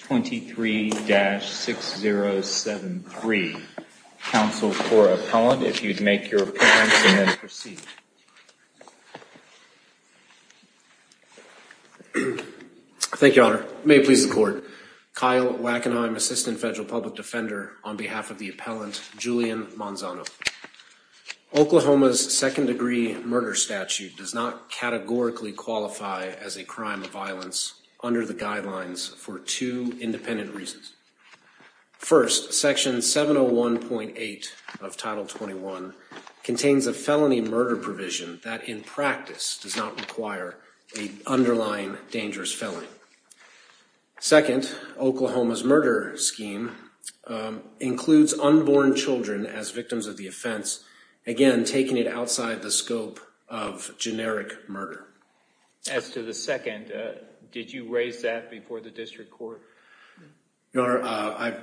23-6073. Counsel for appellant, if you'd make your appearance and then proceed. Thank you, your honor. May it please the court. Kyle Wackenheim, assistant federal public defense attorney. On behalf of the appellant, Julian Manzano. Oklahoma's second degree murder statute does not categorically qualify as a crime of violence under the guidelines for two independent reasons. First, section 701.8 of Title 21 contains a felony murder provision that in practice does not require the underlying dangerous felony. Second, Oklahoma's murder scheme includes unborn children as victims of the offense. Again, taking it outside the scope of generic murder. As to the second, did you raise that before the district court? Your honor,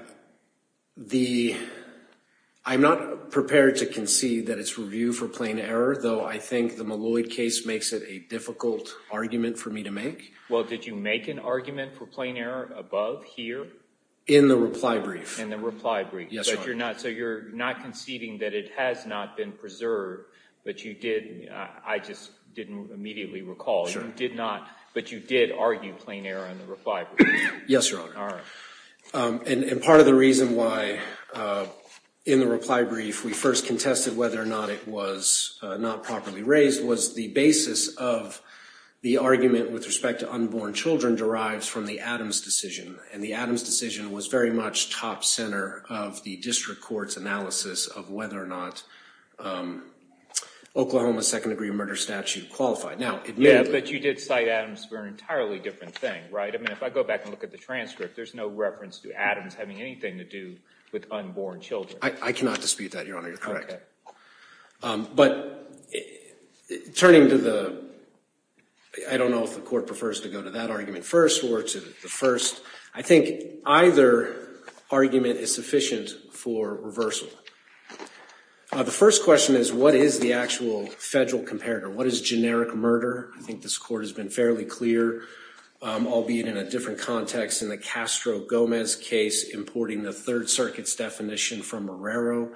I'm not prepared to concede that it's review for plain error, though I think the Malloy case makes it a difficult argument for me to make. Well, did you make an argument for plain error above here? In the reply brief. In the reply brief. Yes, your honor. So you're not conceding that it has not been preserved, but you did, I just didn't immediately recall. Sure. You did not, but you did argue plain error in the reply brief. Yes, your honor. And part of the reason why in the reply brief we first contested whether or not it was not properly raised was the basis of the argument with respect to unborn children derives from the Adams decision. And the Adams decision was very much top center of the district court's analysis of whether or not Oklahoma's second degree murder statute qualified. Yeah, but you did cite Adams for an entirely different thing, right? I mean, if I go back and look at the transcript, there's no reference to Adams having anything to do with unborn children. I cannot dispute that, your honor. You're correct. Okay. But turning to the, I don't know if the court prefers to go to that argument first or to the first. I think either argument is sufficient for reversal. The first question is, what is the actual federal comparator? What is generic murder? I think this court has been fairly clear, albeit in a different context in the Castro-Gomez case, importing the Third Circuit's definition from Morero.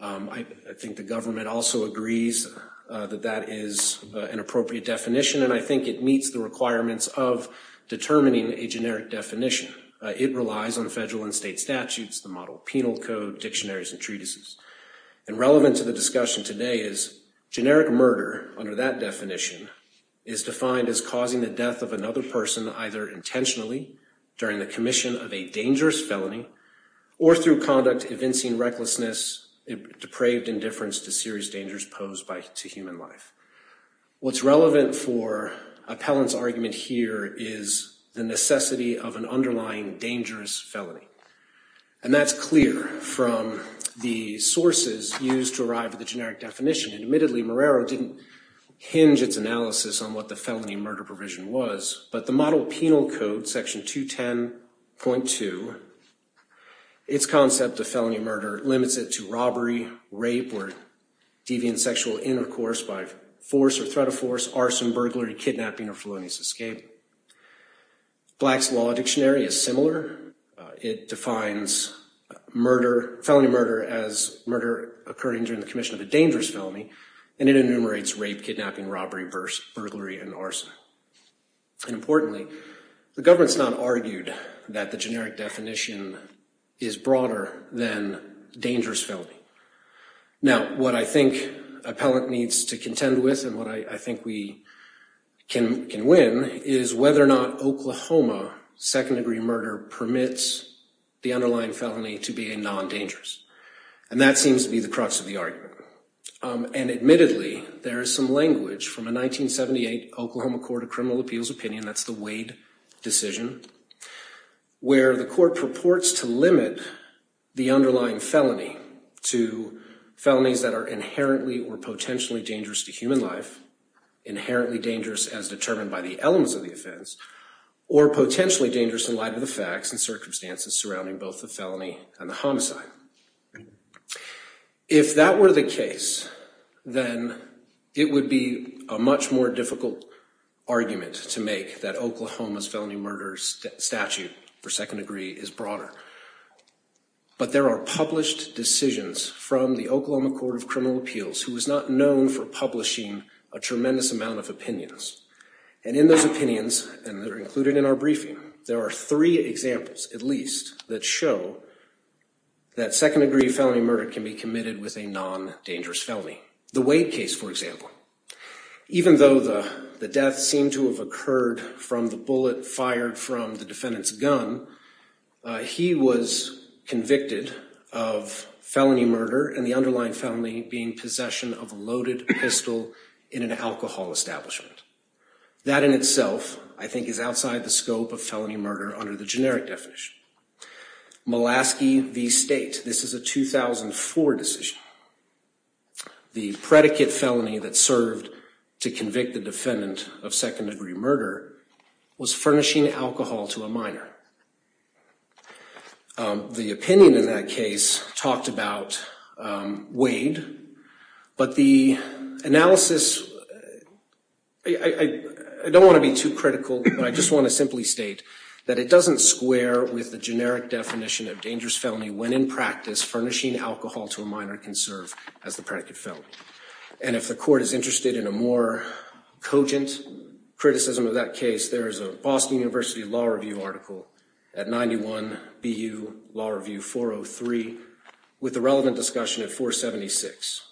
I think the government also agrees that that is an appropriate definition, and I think it meets the requirements of determining a generic definition. It relies on federal and state statutes, the model of penal code, dictionaries, and treatises. And relevant to the discussion today is generic murder under that definition is defined as causing the death of another person either intentionally during the commission of a dangerous felony or through conduct evincing recklessness, depraved indifference to serious dangers posed to human life. What's relevant for Appellant's argument here is the necessity of an underlying dangerous felony. And that's clear from the sources used to arrive at the generic definition. And admittedly, Morero didn't hinge its analysis on what the felony murder provision was. But the model of penal code, section 210.2, its concept of felony murder limits it to robbery, rape, or deviant sexual intercourse by force or threat of force, arson, burglary, kidnapping, or felonious escape. Black's law dictionary is similar. It defines murder, felony murder, as murder occurring during the commission of a dangerous felony, and it enumerates rape, kidnapping, robbery, burglary, and arson. Importantly, the government's not argued that the generic definition is broader than dangerous felony. Now, what I think Appellant needs to contend with and what I think we can win is whether or not Oklahoma second-degree murder permits the underlying felony to be a non-dangerous. And that seems to be the crux of the argument. And admittedly, there is some language from a 1978 Oklahoma Court of Criminal Appeals opinion, that's the Wade decision, where the court purports to limit the underlying felony to felonies that are inherently or potentially dangerous to human life, inherently dangerous as determined by the elements of the offense, or potentially dangerous in light of the facts and circumstances surrounding both the felony and the homicide. If that were the case, then it would be a much more difficult argument to make that Oklahoma's felony murder statute for second degree is broader. But there are published decisions from the Oklahoma Court of Criminal Appeals who is not known for publishing a tremendous amount of opinions. And in those opinions, and they're included in our briefing, there are three examples, at least, that show that second-degree felony murder can be committed with a non-dangerous felony. The Wade case, for example, even though the death seemed to have occurred from the bullet fired from the defendant's gun, he was convicted of felony murder and the underlying felony being possession of a loaded pistol in an alcohol establishment. That in itself, I think, is outside the scope of felony murder under the generic definition. Mulaski v. State, this is a 2004 decision. The predicate felony that served to convict the defendant of second-degree murder was furnishing alcohol to a minor. The opinion in that case talked about Wade. But the analysis, I don't want to be too critical, but I just want to simply state that it doesn't square with the generic definition of dangerous felony when in practice furnishing alcohol to a minor can serve as the predicate felony. And if the court is interested in a more cogent criticism of that case, there is a Boston University Law Review article at 91 BU Law Review 403 with the relevant discussion at 476.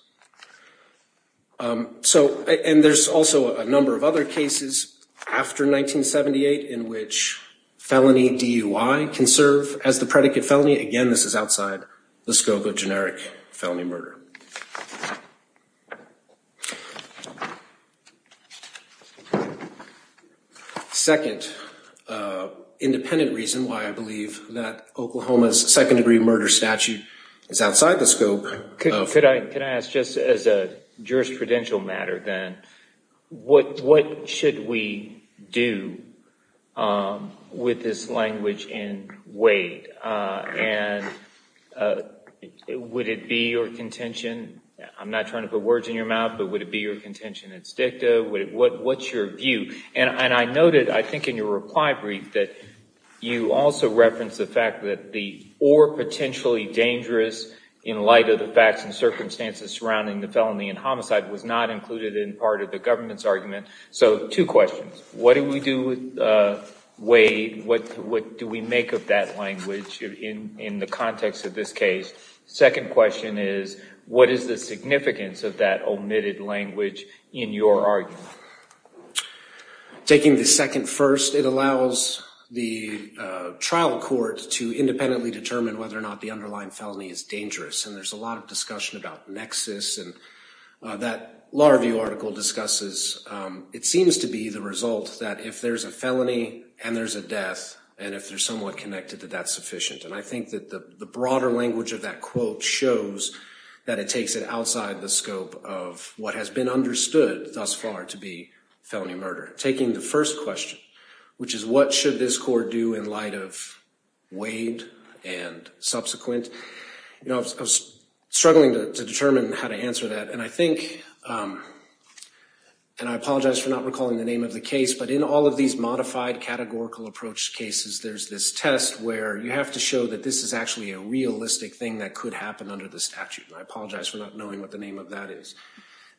And there's also a number of other cases after 1978 in which felony DUI can serve as the predicate felony. Again, this is outside the scope of generic felony murder. Second, independent reason why I believe that Oklahoma's second-degree murder statute is outside the scope of— And would it be your contention—I'm not trying to put words in your mouth, but would it be your contention that it's dicta? What's your view? And I noted, I think, in your reply brief that you also referenced the fact that the or potentially dangerous in light of the facts and circumstances surrounding the felony and homicide was not included in part of the government's argument. So, two questions. What do we do with Wade? What do we make of that language in the context of this case? Second question is, what is the significance of that omitted language in your argument? Taking the second first, it allows the trial court to independently determine whether or not the underlying felony is dangerous. And there's a lot of discussion about nexus. And that Law Review article discusses, it seems to be the result that if there's a felony and there's a death, and if they're somewhat connected, that that's sufficient. And I think that the broader language of that quote shows that it takes it outside the scope of what has been understood thus far to be felony murder. Taking the first question, which is what should this court do in light of Wade and subsequent, you know, I was struggling to determine how to answer that. And I think, and I apologize for not recalling the name of the case, but in all of these modified categorical approach cases, there's this test where you have to show that this is actually a realistic thing that could happen under the statute. And I apologize for not knowing what the name of that is.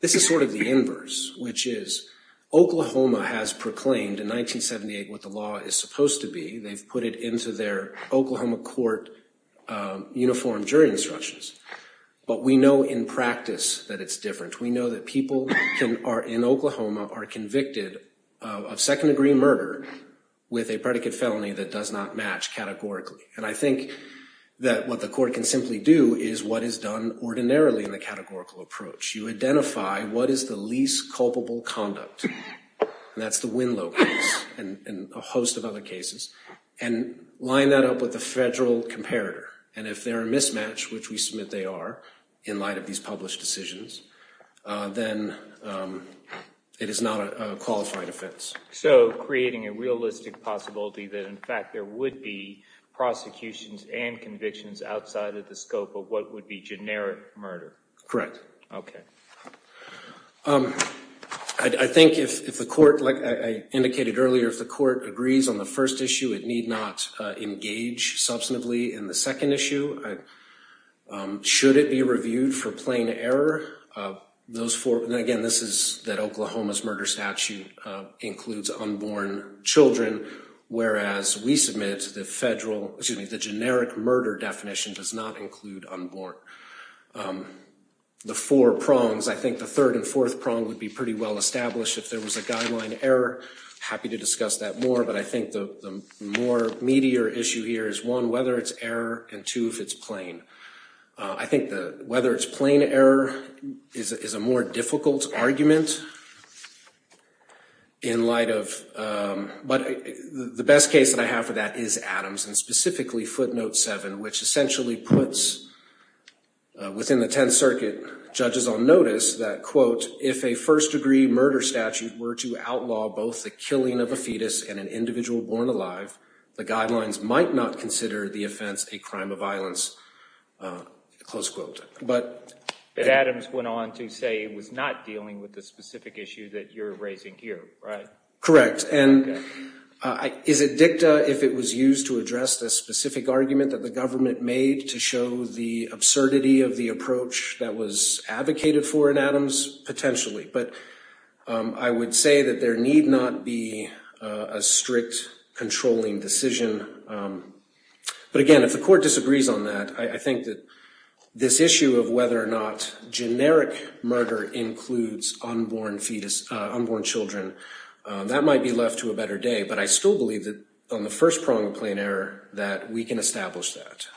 This is sort of the inverse, which is Oklahoma has proclaimed in 1978 what the law is supposed to be. They've put it into their Oklahoma court uniform jury instructions. But we know in practice that it's different. We know that people in Oklahoma are convicted of second degree murder with a predicate felony that does not match categorically. And I think that what the court can simply do is what is done ordinarily in the categorical approach. You identify what is the least culpable conduct. That's the Winlow case and a host of other cases and line that up with the federal comparator. And if they're a mismatch, which we submit they are in light of these published decisions, then it is not a qualified offense. So creating a realistic possibility that, in fact, there would be prosecutions and convictions outside of the scope of what would be generic murder. Correct. OK. I think if the court, like I indicated earlier, if the court agrees on the first issue, it need not engage substantively in the second issue. Should it be reviewed for plain error? Those four. And again, this is that Oklahoma's murder statute includes unborn children. Whereas we submit the federal excuse me, the generic murder definition does not include unborn. The four prongs, I think the third and fourth prong would be pretty well established if there was a guideline error. Happy to discuss that more. But I think the more meatier issue here is one, whether it's error and two, if it's plain. I think the whether it's plain error is a more difficult argument. In light of. But the best case that I have for that is Adams and specifically footnote seven, which essentially puts within the 10th Circuit judges on notice that, quote, if a first degree murder statute were to outlaw both the killing of a fetus and an individual born alive, the guidelines might not consider the offense a crime of violence. Close quote. But Adams went on to say it was not dealing with the specific issue that you're raising here. Right. Correct. And is it dicta if it was used to address the specific argument that the government made to show the absurdity of the approach that was advocated for in Adams? Potentially. But I would say that there need not be a strict controlling decision. But again, if the court disagrees on that, I think that this issue of whether or not generic murder includes unborn fetus, unborn children, that might be left to a better day. But I still believe that on the first prong of plain error that we can establish that.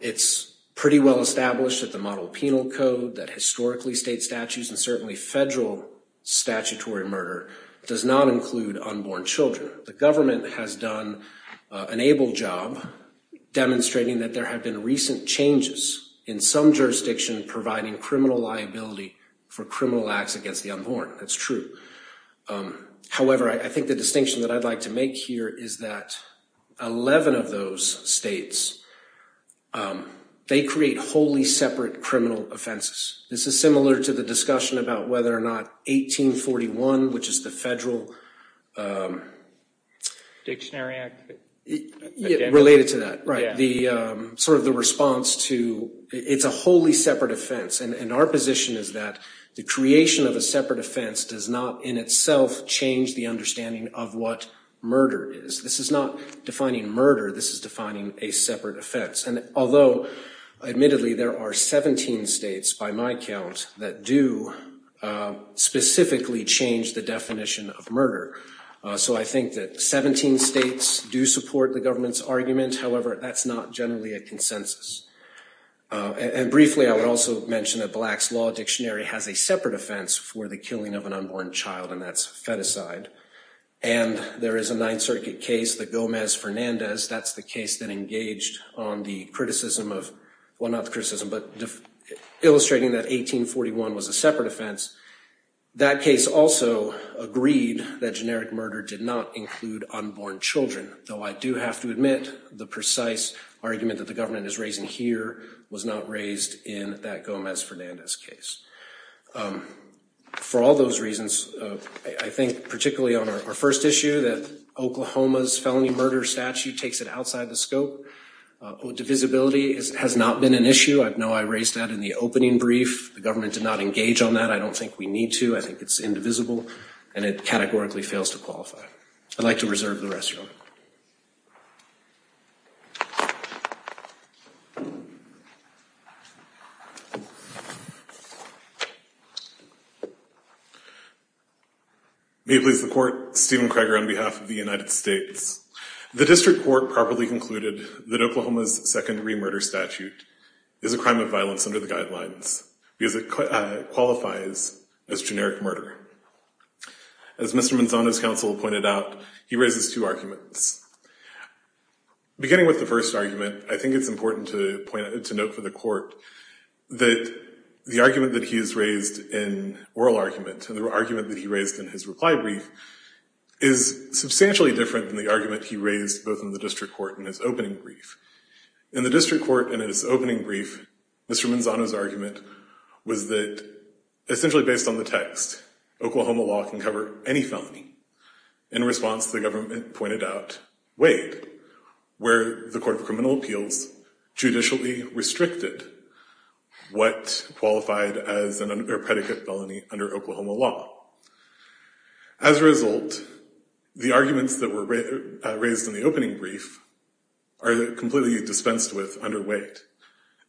It's pretty well established that the model penal code that historically state statutes and certainly federal statutory murder does not include unborn children. The government has done an able job demonstrating that there have been recent changes in some jurisdiction providing criminal liability for criminal acts against the unborn. That's true. However, I think the distinction that I'd like to make here is that 11 of those states, they create wholly separate criminal offenses. This is similar to the discussion about whether or not 1841, which is the federal Dictionary Act related to that. Right. The sort of the response to it's a wholly separate offense. And our position is that the creation of a separate offense does not in itself change the understanding of what murder is. This is not defining murder. This is defining a separate offense. And although admittedly, there are 17 states by my count that do specifically change the definition of murder. So I think that 17 states do support the government's argument. However, that's not generally a consensus. And briefly, I would also mention that Black's Law Dictionary has a separate offense for the killing of an unborn child, and that's feticide. And there is a Ninth Circuit case, the Gomez-Fernandez. That's the case that engaged on the criticism of, well not the criticism, but illustrating that 1841 was a separate offense. That case also agreed that generic murder did not include unborn children. Though I do have to admit the precise argument that the government is raising here was not raised in that Gomez-Fernandez case. For all those reasons, I think particularly on our first issue that Oklahoma's felony murder statute takes it outside the scope. Divisibility has not been an issue. I know I raised that in the opening brief. The government did not engage on that. I don't think we need to. I think it's indivisible, and it categorically fails to qualify. I'd like to reserve the rest, Your Honor. May it please the Court, Stephen Kreger on behalf of the United States. The District Court properly concluded that Oklahoma's secondary murder statute is a crime of violence under the guidelines, because it qualifies as generic murder. As Mr. Manzano's counsel pointed out, he raises two arguments. Beginning with the first argument, I think it's important to note for the Court that the argument that he has raised in oral argument, and the argument that he raised in his reply brief, is substantially different than the argument he raised both in the District Court and his opening brief. In the District Court, in his opening brief, Mr. Manzano's argument was that, essentially based on the text, Oklahoma law can cover any felony. In response, the government pointed out Wade, where the Court of Criminal Appeals judicially restricted what qualified as a predicate felony under Oklahoma law. As a result, the arguments that were raised in the opening brief are completely dispensed with under Wade.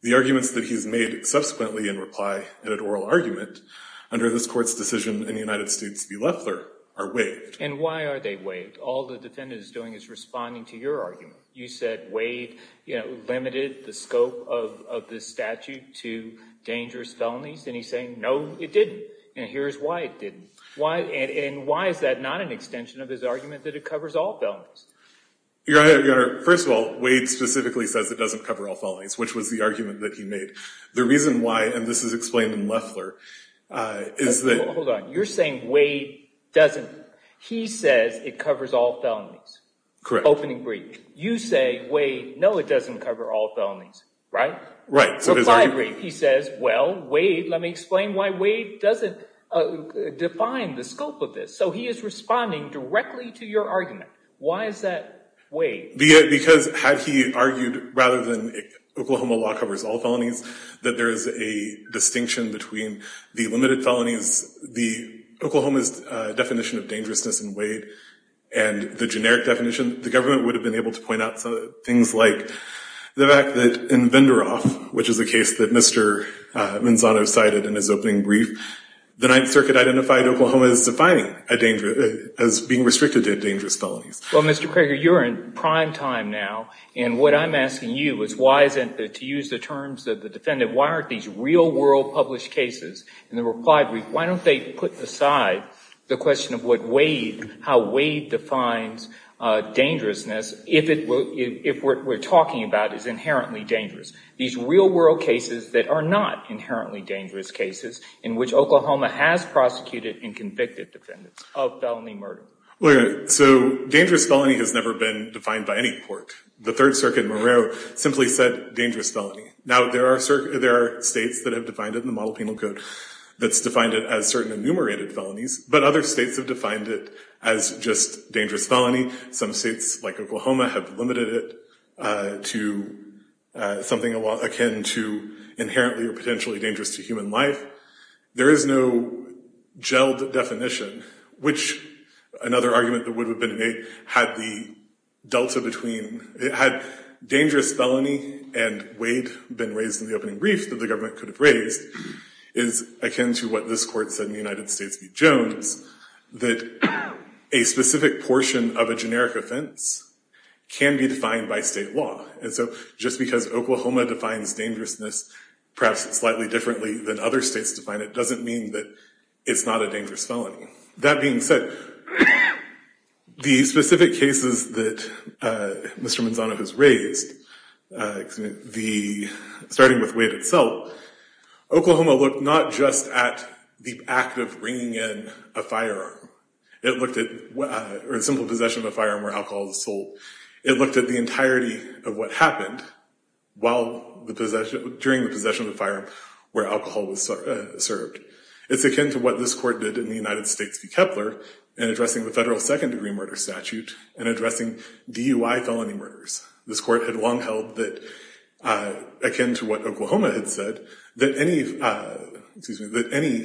The arguments that he's made subsequently in reply in an oral argument under this Court's decision in the United States v. Loeffler are waived. And why are they waived? All the defendant is doing is responding to your argument. You said Wade, you know, limited the scope of this statute to dangerous felonies, and he's saying, no, it didn't. And here's why it didn't. And why is that not an extension of his argument that it covers all felonies? Your Honor, first of all, Wade specifically says it doesn't cover all felonies, which was the argument that he made. The reason why, and this is explained in Loeffler, is that— Hold on. You're saying Wade doesn't. He says it covers all felonies. Correct. Opening brief. You say, Wade, no, it doesn't cover all felonies, right? Right. So his argument— So five brief, he says, well, Wade, let me explain why Wade doesn't define the scope of this. So he is responding directly to your argument. Why is that Wade? Because had he argued, rather than Oklahoma law covers all felonies, that there is a distinction between the limited felonies, the Oklahoma's definition of dangerousness in Wade, and the generic definition, the government would have been able to point out things like the fact that in Vendoroff, which is a case that Mr. Manzano cited in his opening brief, the Ninth Circuit identified Oklahoma as being restricted to dangerous felonies. Well, Mr. Prager, you're in prime time now, and what I'm asking you is why isn't, to use the terms of the defendant, why aren't these real-world published cases in the replied brief, why don't they put aside the question of how Wade defines dangerousness if what we're talking about is inherently dangerous? These real-world cases that are not inherently dangerous cases, in which Oklahoma has prosecuted and convicted defendants of felony murder. So dangerous felony has never been defined by any court. The Third Circuit, moreo, simply said dangerous felony. Now, there are states that have defined it in the Model Penal Code that's defined it as certain enumerated felonies, but other states have defined it as just dangerous felony. Some states, like Oklahoma, have limited it to something akin to inherently or potentially dangerous to human life. There is no gelled definition, which another argument that would have been made had the delta between, had dangerous felony and Wade been raised in the opening brief that the government could have raised, is akin to what this court said in the United States v. Jones, that a specific portion of a generic offense can be defined by state law. And so just because Oklahoma defines dangerousness perhaps slightly differently than other states define it, doesn't mean that it's not a dangerous felony. That being said, the specific cases that Mr. Manzano has raised, starting with Wade itself, Oklahoma looked not just at the act of bringing in a firearm, or the simple possession of a firearm where alcohol was sold. It looked at the entirety of what happened during the possession of the firearm where alcohol was served. It's akin to what this court did in the United States v. Kepler in addressing the federal second-degree murder statute and addressing DUI felony murders. This court had long held that, akin to what Oklahoma had said, that any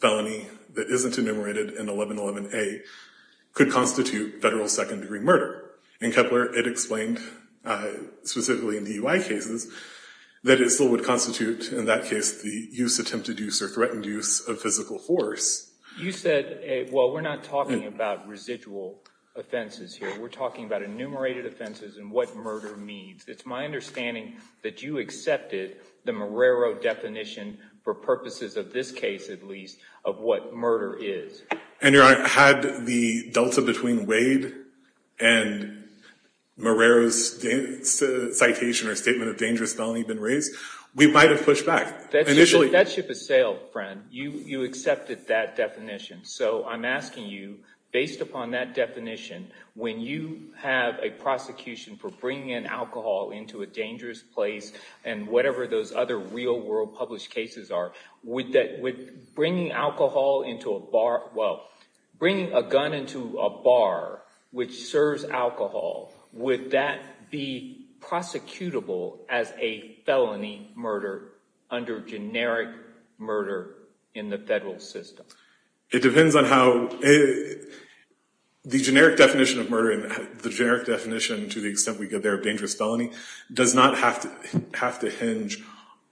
felony that isn't enumerated in 1111A could constitute federal second-degree murder. In Kepler, it explained, specifically in DUI cases, that it still would constitute, in that case, the use, attempted use, or threatened use of physical force. You said, well, we're not talking about residual offenses here. We're talking about enumerated offenses and what murder means. It's my understanding that you accepted the Marrero definition, for purposes of this case at least, of what murder is. And, Your Honor, had the delta between Wade and Marrero's citation or statement of dangerous felony been raised, we might have pushed back. That ship has sailed, friend. You accepted that definition. So I'm asking you, based upon that definition, when you have a prosecution for bringing in alcohol into a dangerous place and whatever those other real-world published cases are, would bringing alcohol into a bar, well, bringing a gun into a bar which serves alcohol, would that be prosecutable as a felony murder under generic murder in the federal system? It depends on how the generic definition of murder and the generic definition, to the extent we get there, of dangerous felony, does not have to hinge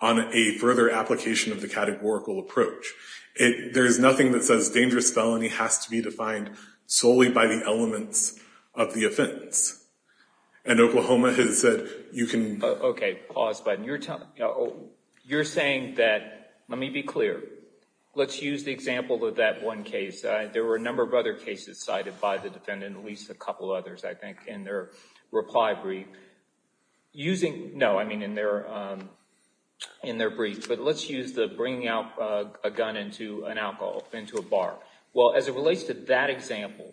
on a further application of the categorical approach. There is nothing that says dangerous felony has to be defined solely by the elements of the offense. And Oklahoma has said you can... Okay, pause, Biden. You're saying that, let me be clear, let's use the example of that one case. There were a number of other cases cited by the defendant, at least a couple others, I think, in their reply brief. Using, no, I mean in their brief, but let's use the bringing out a gun into an alcohol, into a bar. Well, as it relates to that example,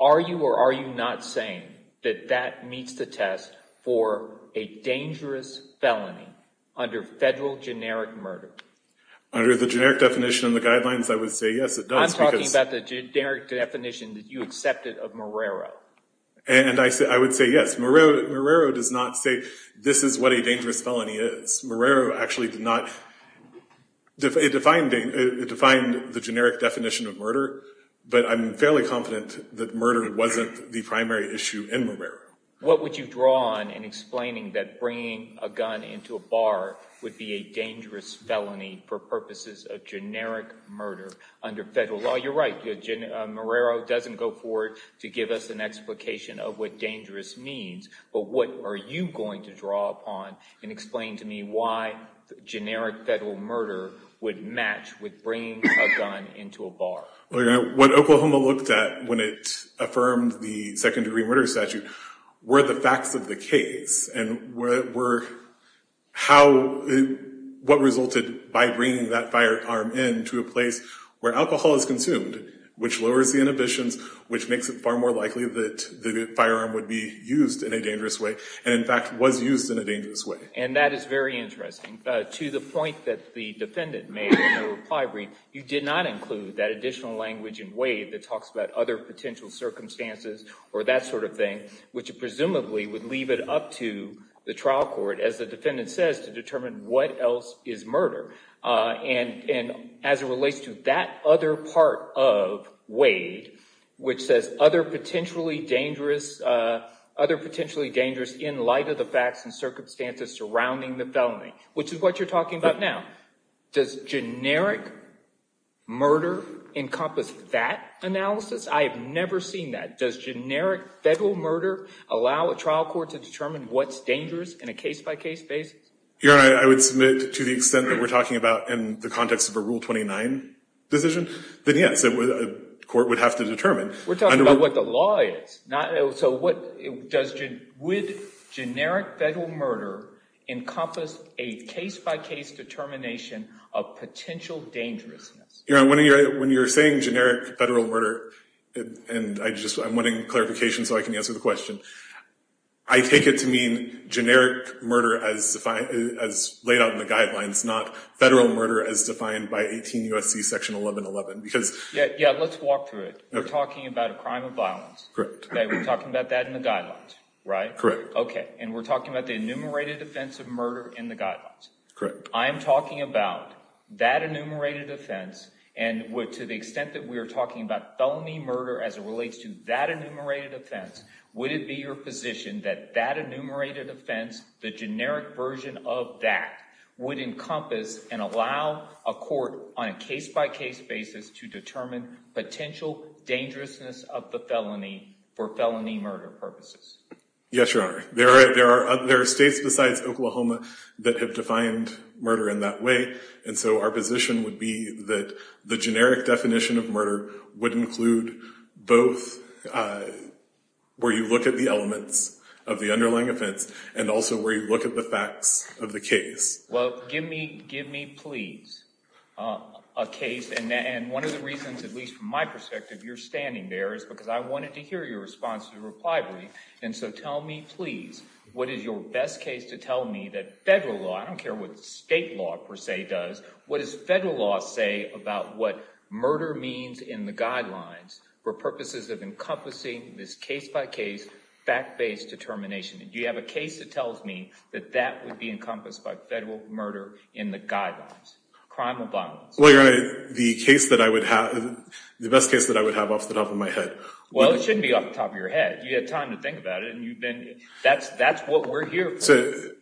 are you or are you not saying that that meets the test for a dangerous felony under federal generic murder? Under the generic definition and the guidelines, I would say yes, it does. I'm talking about the generic definition that you accepted of Marrero. And I would say yes. Marrero does not say this is what a dangerous felony is. Marrero actually did not, it defined the generic definition of murder, but I'm fairly confident that murder wasn't the primary issue in Marrero. What would you draw on in explaining that bringing a gun into a bar would be a dangerous felony for purposes of generic murder under federal law? You're right, Marrero doesn't go forward to give us an explication of what dangerous means, but what are you going to draw upon and explain to me why generic federal murder would match with bringing a gun into a bar? What Oklahoma looked at when it affirmed the second degree murder statute were the facts of the case and what resulted by bringing that firearm into a place where alcohol is consumed, which lowers the inhibitions, which makes it far more likely that the firearm would be used in a dangerous way, and in fact was used in a dangerous way. And that is very interesting. To the point that the defendant made in her reply brief, you did not include that additional language in Wade that talks about other potential circumstances or that sort of thing, which presumably would leave it up to the trial court, as the defendant says, to determine what else is murder. And as it relates to that other part of Wade, which says other potentially dangerous in light of the facts and circumstances surrounding the felony, which is what you're talking about now. Does generic murder encompass that analysis? I have never seen that. Does generic federal murder allow a trial court to determine what's dangerous in a case-by-case basis? Your Honor, I would submit to the extent that we're talking about in the context of a Rule 29 decision, then yes, a court would have to determine. We're talking about what the law is. So would generic federal murder encompass a case-by-case determination of potential dangerousness? Your Honor, when you're saying generic federal murder, and I'm wanting clarification so I can answer the question, I take it to mean generic murder as laid out in the guidelines, not federal murder as defined by 18 U.S.C. Section 1111? Yeah, let's walk through it. We're talking about a crime of violence. We're talking about that in the guidelines, right? Correct. Okay. And we're talking about the enumerated offense of murder in the guidelines. Correct. I'm talking about that enumerated offense, and to the extent that we're talking about felony murder as it relates to that enumerated offense, would it be your position that that enumerated offense, the generic version of that, would encompass and allow a court on a case-by-case basis to determine potential dangerousness of the felony for felony murder purposes? Yes, Your Honor. There are states besides Oklahoma that have defined murder in that way, and so our position would be that the generic definition of murder would include both where you look at the elements of the underlying offense and also where you look at the facts of the case. Well, give me, please, a case, and one of the reasons, at least from my perspective, you're standing there is because I wanted to hear your response to the reply brief, and so tell me, please, what is your best case to tell me that federal law, I don't care what state law per se does, what does federal law say about what murder means in the guidelines for purposes of encompassing this case-by-case, fact-based determination? Do you have a case that tells me that that would be encompassed by federal murder in the guidelines? Crime or violence? Well, Your Honor, the best case that I would have off the top of my head. Well, it shouldn't be off the top of your head. You had time to think about it, and that's what we're here for.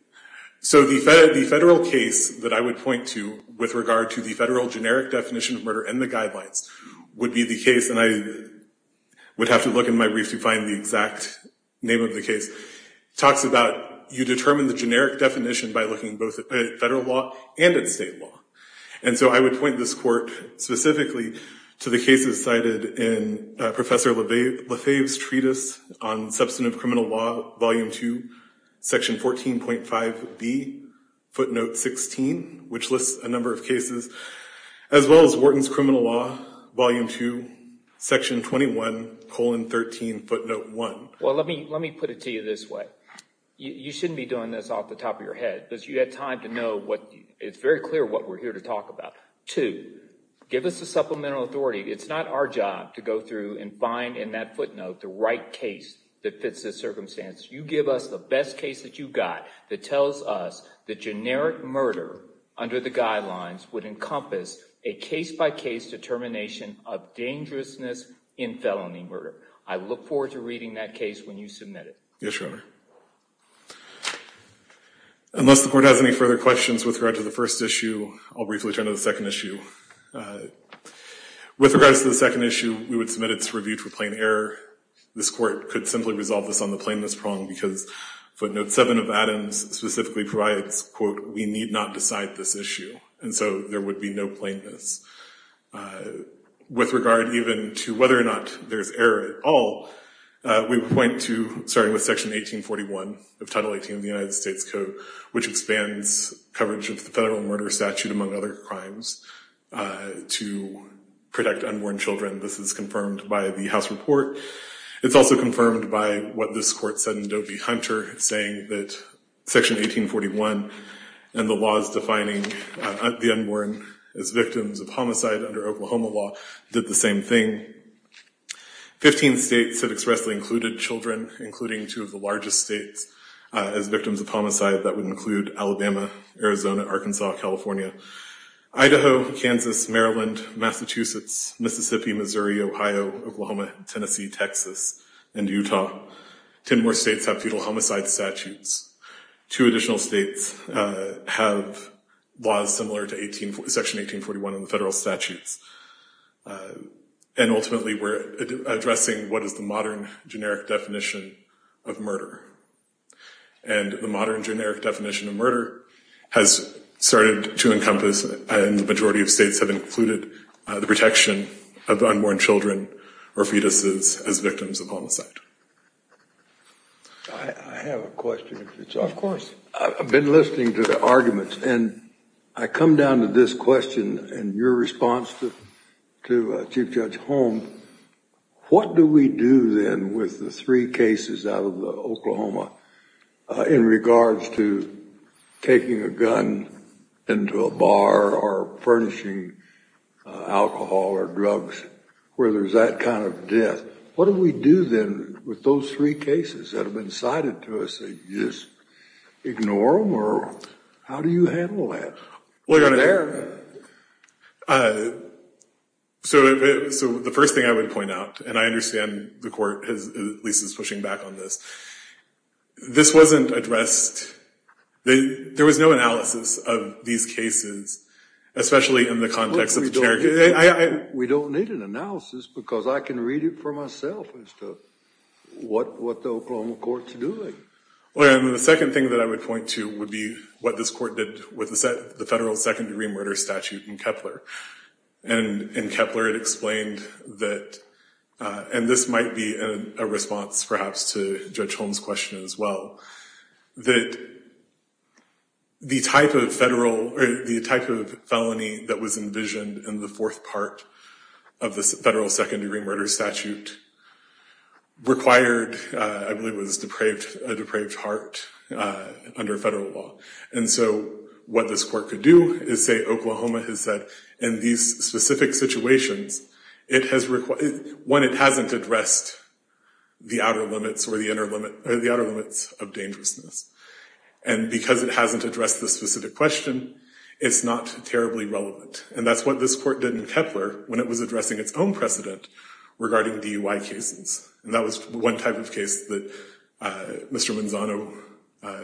So the federal case that I would point to with regard to the federal generic definition of murder and the guidelines would be the case, and I would have to look in my brief to find the exact name of the case, talks about you determine the generic definition by looking both at federal law and at state law, and so I would point this court specifically to the cases cited in Professor Lefebvre's treatise on substantive criminal law, volume two, section 14.5B, footnote 16, which lists a number of cases, as well as Wharton's criminal law, volume two, section 21, colon 13, footnote 1. Well, let me put it to you this way. You shouldn't be doing this off the top of your head because you had time to know what it's very clear what we're here to talk about. Two, give us the supplemental authority. It's not our job to go through and find in that footnote the right case that fits the circumstances. You give us the best case that you've got that tells us the generic murder under the guidelines would encompass a case-by-case determination of dangerousness in felony murder. I look forward to reading that case when you submit it. Yes, Your Honor. Unless the court has any further questions with regard to the first issue, I'll briefly turn to the second issue. With regards to the second issue, we would submit its review to a plain error. This court could simply resolve this on the plainness prong because footnote 7 of Adams specifically provides, quote, we need not decide this issue, and so there would be no plainness. With regard even to whether or not there's error at all, we would point to starting with Section 1841 of Title 18 of the United States Code, which expands coverage of the federal murder statute, among other crimes, to protect unborn children. This is confirmed by the House report. It's also confirmed by what this court said in Doe v. Hunter, saying that Section 1841 and the laws defining the unborn as victims of homicide under Oklahoma law did the same thing. Fifteen states have expressly included children, including two of the largest states, as victims of homicide. That would include Alabama, Arizona, Arkansas, California, Idaho, Kansas, Maryland, Massachusetts, Mississippi, Missouri, Ohio, Oklahoma, Tennessee, Texas, and Utah. Ten more states have feudal homicide statutes. Two additional states have laws similar to Section 1841 in the federal statutes. And ultimately, we're addressing what is the modern generic definition of murder. And the modern generic definition of murder has started to encompass, and the majority of states have included, the protection of unborn children or fetuses as victims of homicide. I have a question. Of course. I've been listening to the arguments, and I come down to this question and your response to Chief Judge Holm. What do we do then with the three cases out of Oklahoma in regards to taking a gun into a bar or furnishing alcohol or drugs where there's that kind of death? What do we do then with those three cases that have been cited to us? Do we just ignore them, or how do you handle that? Well, Your Honor, so the first thing I would point out, and I understand the court at least is pushing back on this. This wasn't addressed. There was no analysis of these cases, especially in the context of the generic. We don't need an analysis because I can read it for myself as to what the Oklahoma court's doing. Well, Your Honor, the second thing that I would point to would be what this court did with the federal second-degree murder statute in Kepler. And in Kepler it explained that, and this might be a response perhaps to Judge Holm's question as well, that the type of felony that was envisioned in the fourth part of the federal second-degree murder statute required, I believe it was a depraved heart under federal law. And so what this court could do is say Oklahoma has said in these specific situations, one, it hasn't addressed the outer limits of dangerousness. And because it hasn't addressed the specific question, it's not terribly relevant. And that's what this court did in Kepler when it was addressing its own precedent regarding DUI cases. And that was one type of case that Mr. Manzano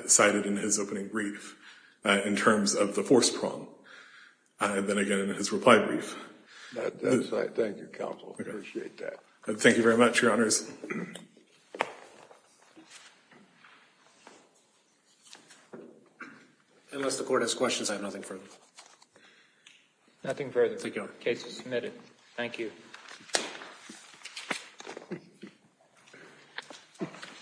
cited in his opening brief in terms of the fourth prong, and then again in his reply brief. Thank you, counsel. I appreciate that. Thank you very much, Your Honors. Unless the court has questions, I have nothing further. Nothing further. Thank you. The case is submitted. Thank you.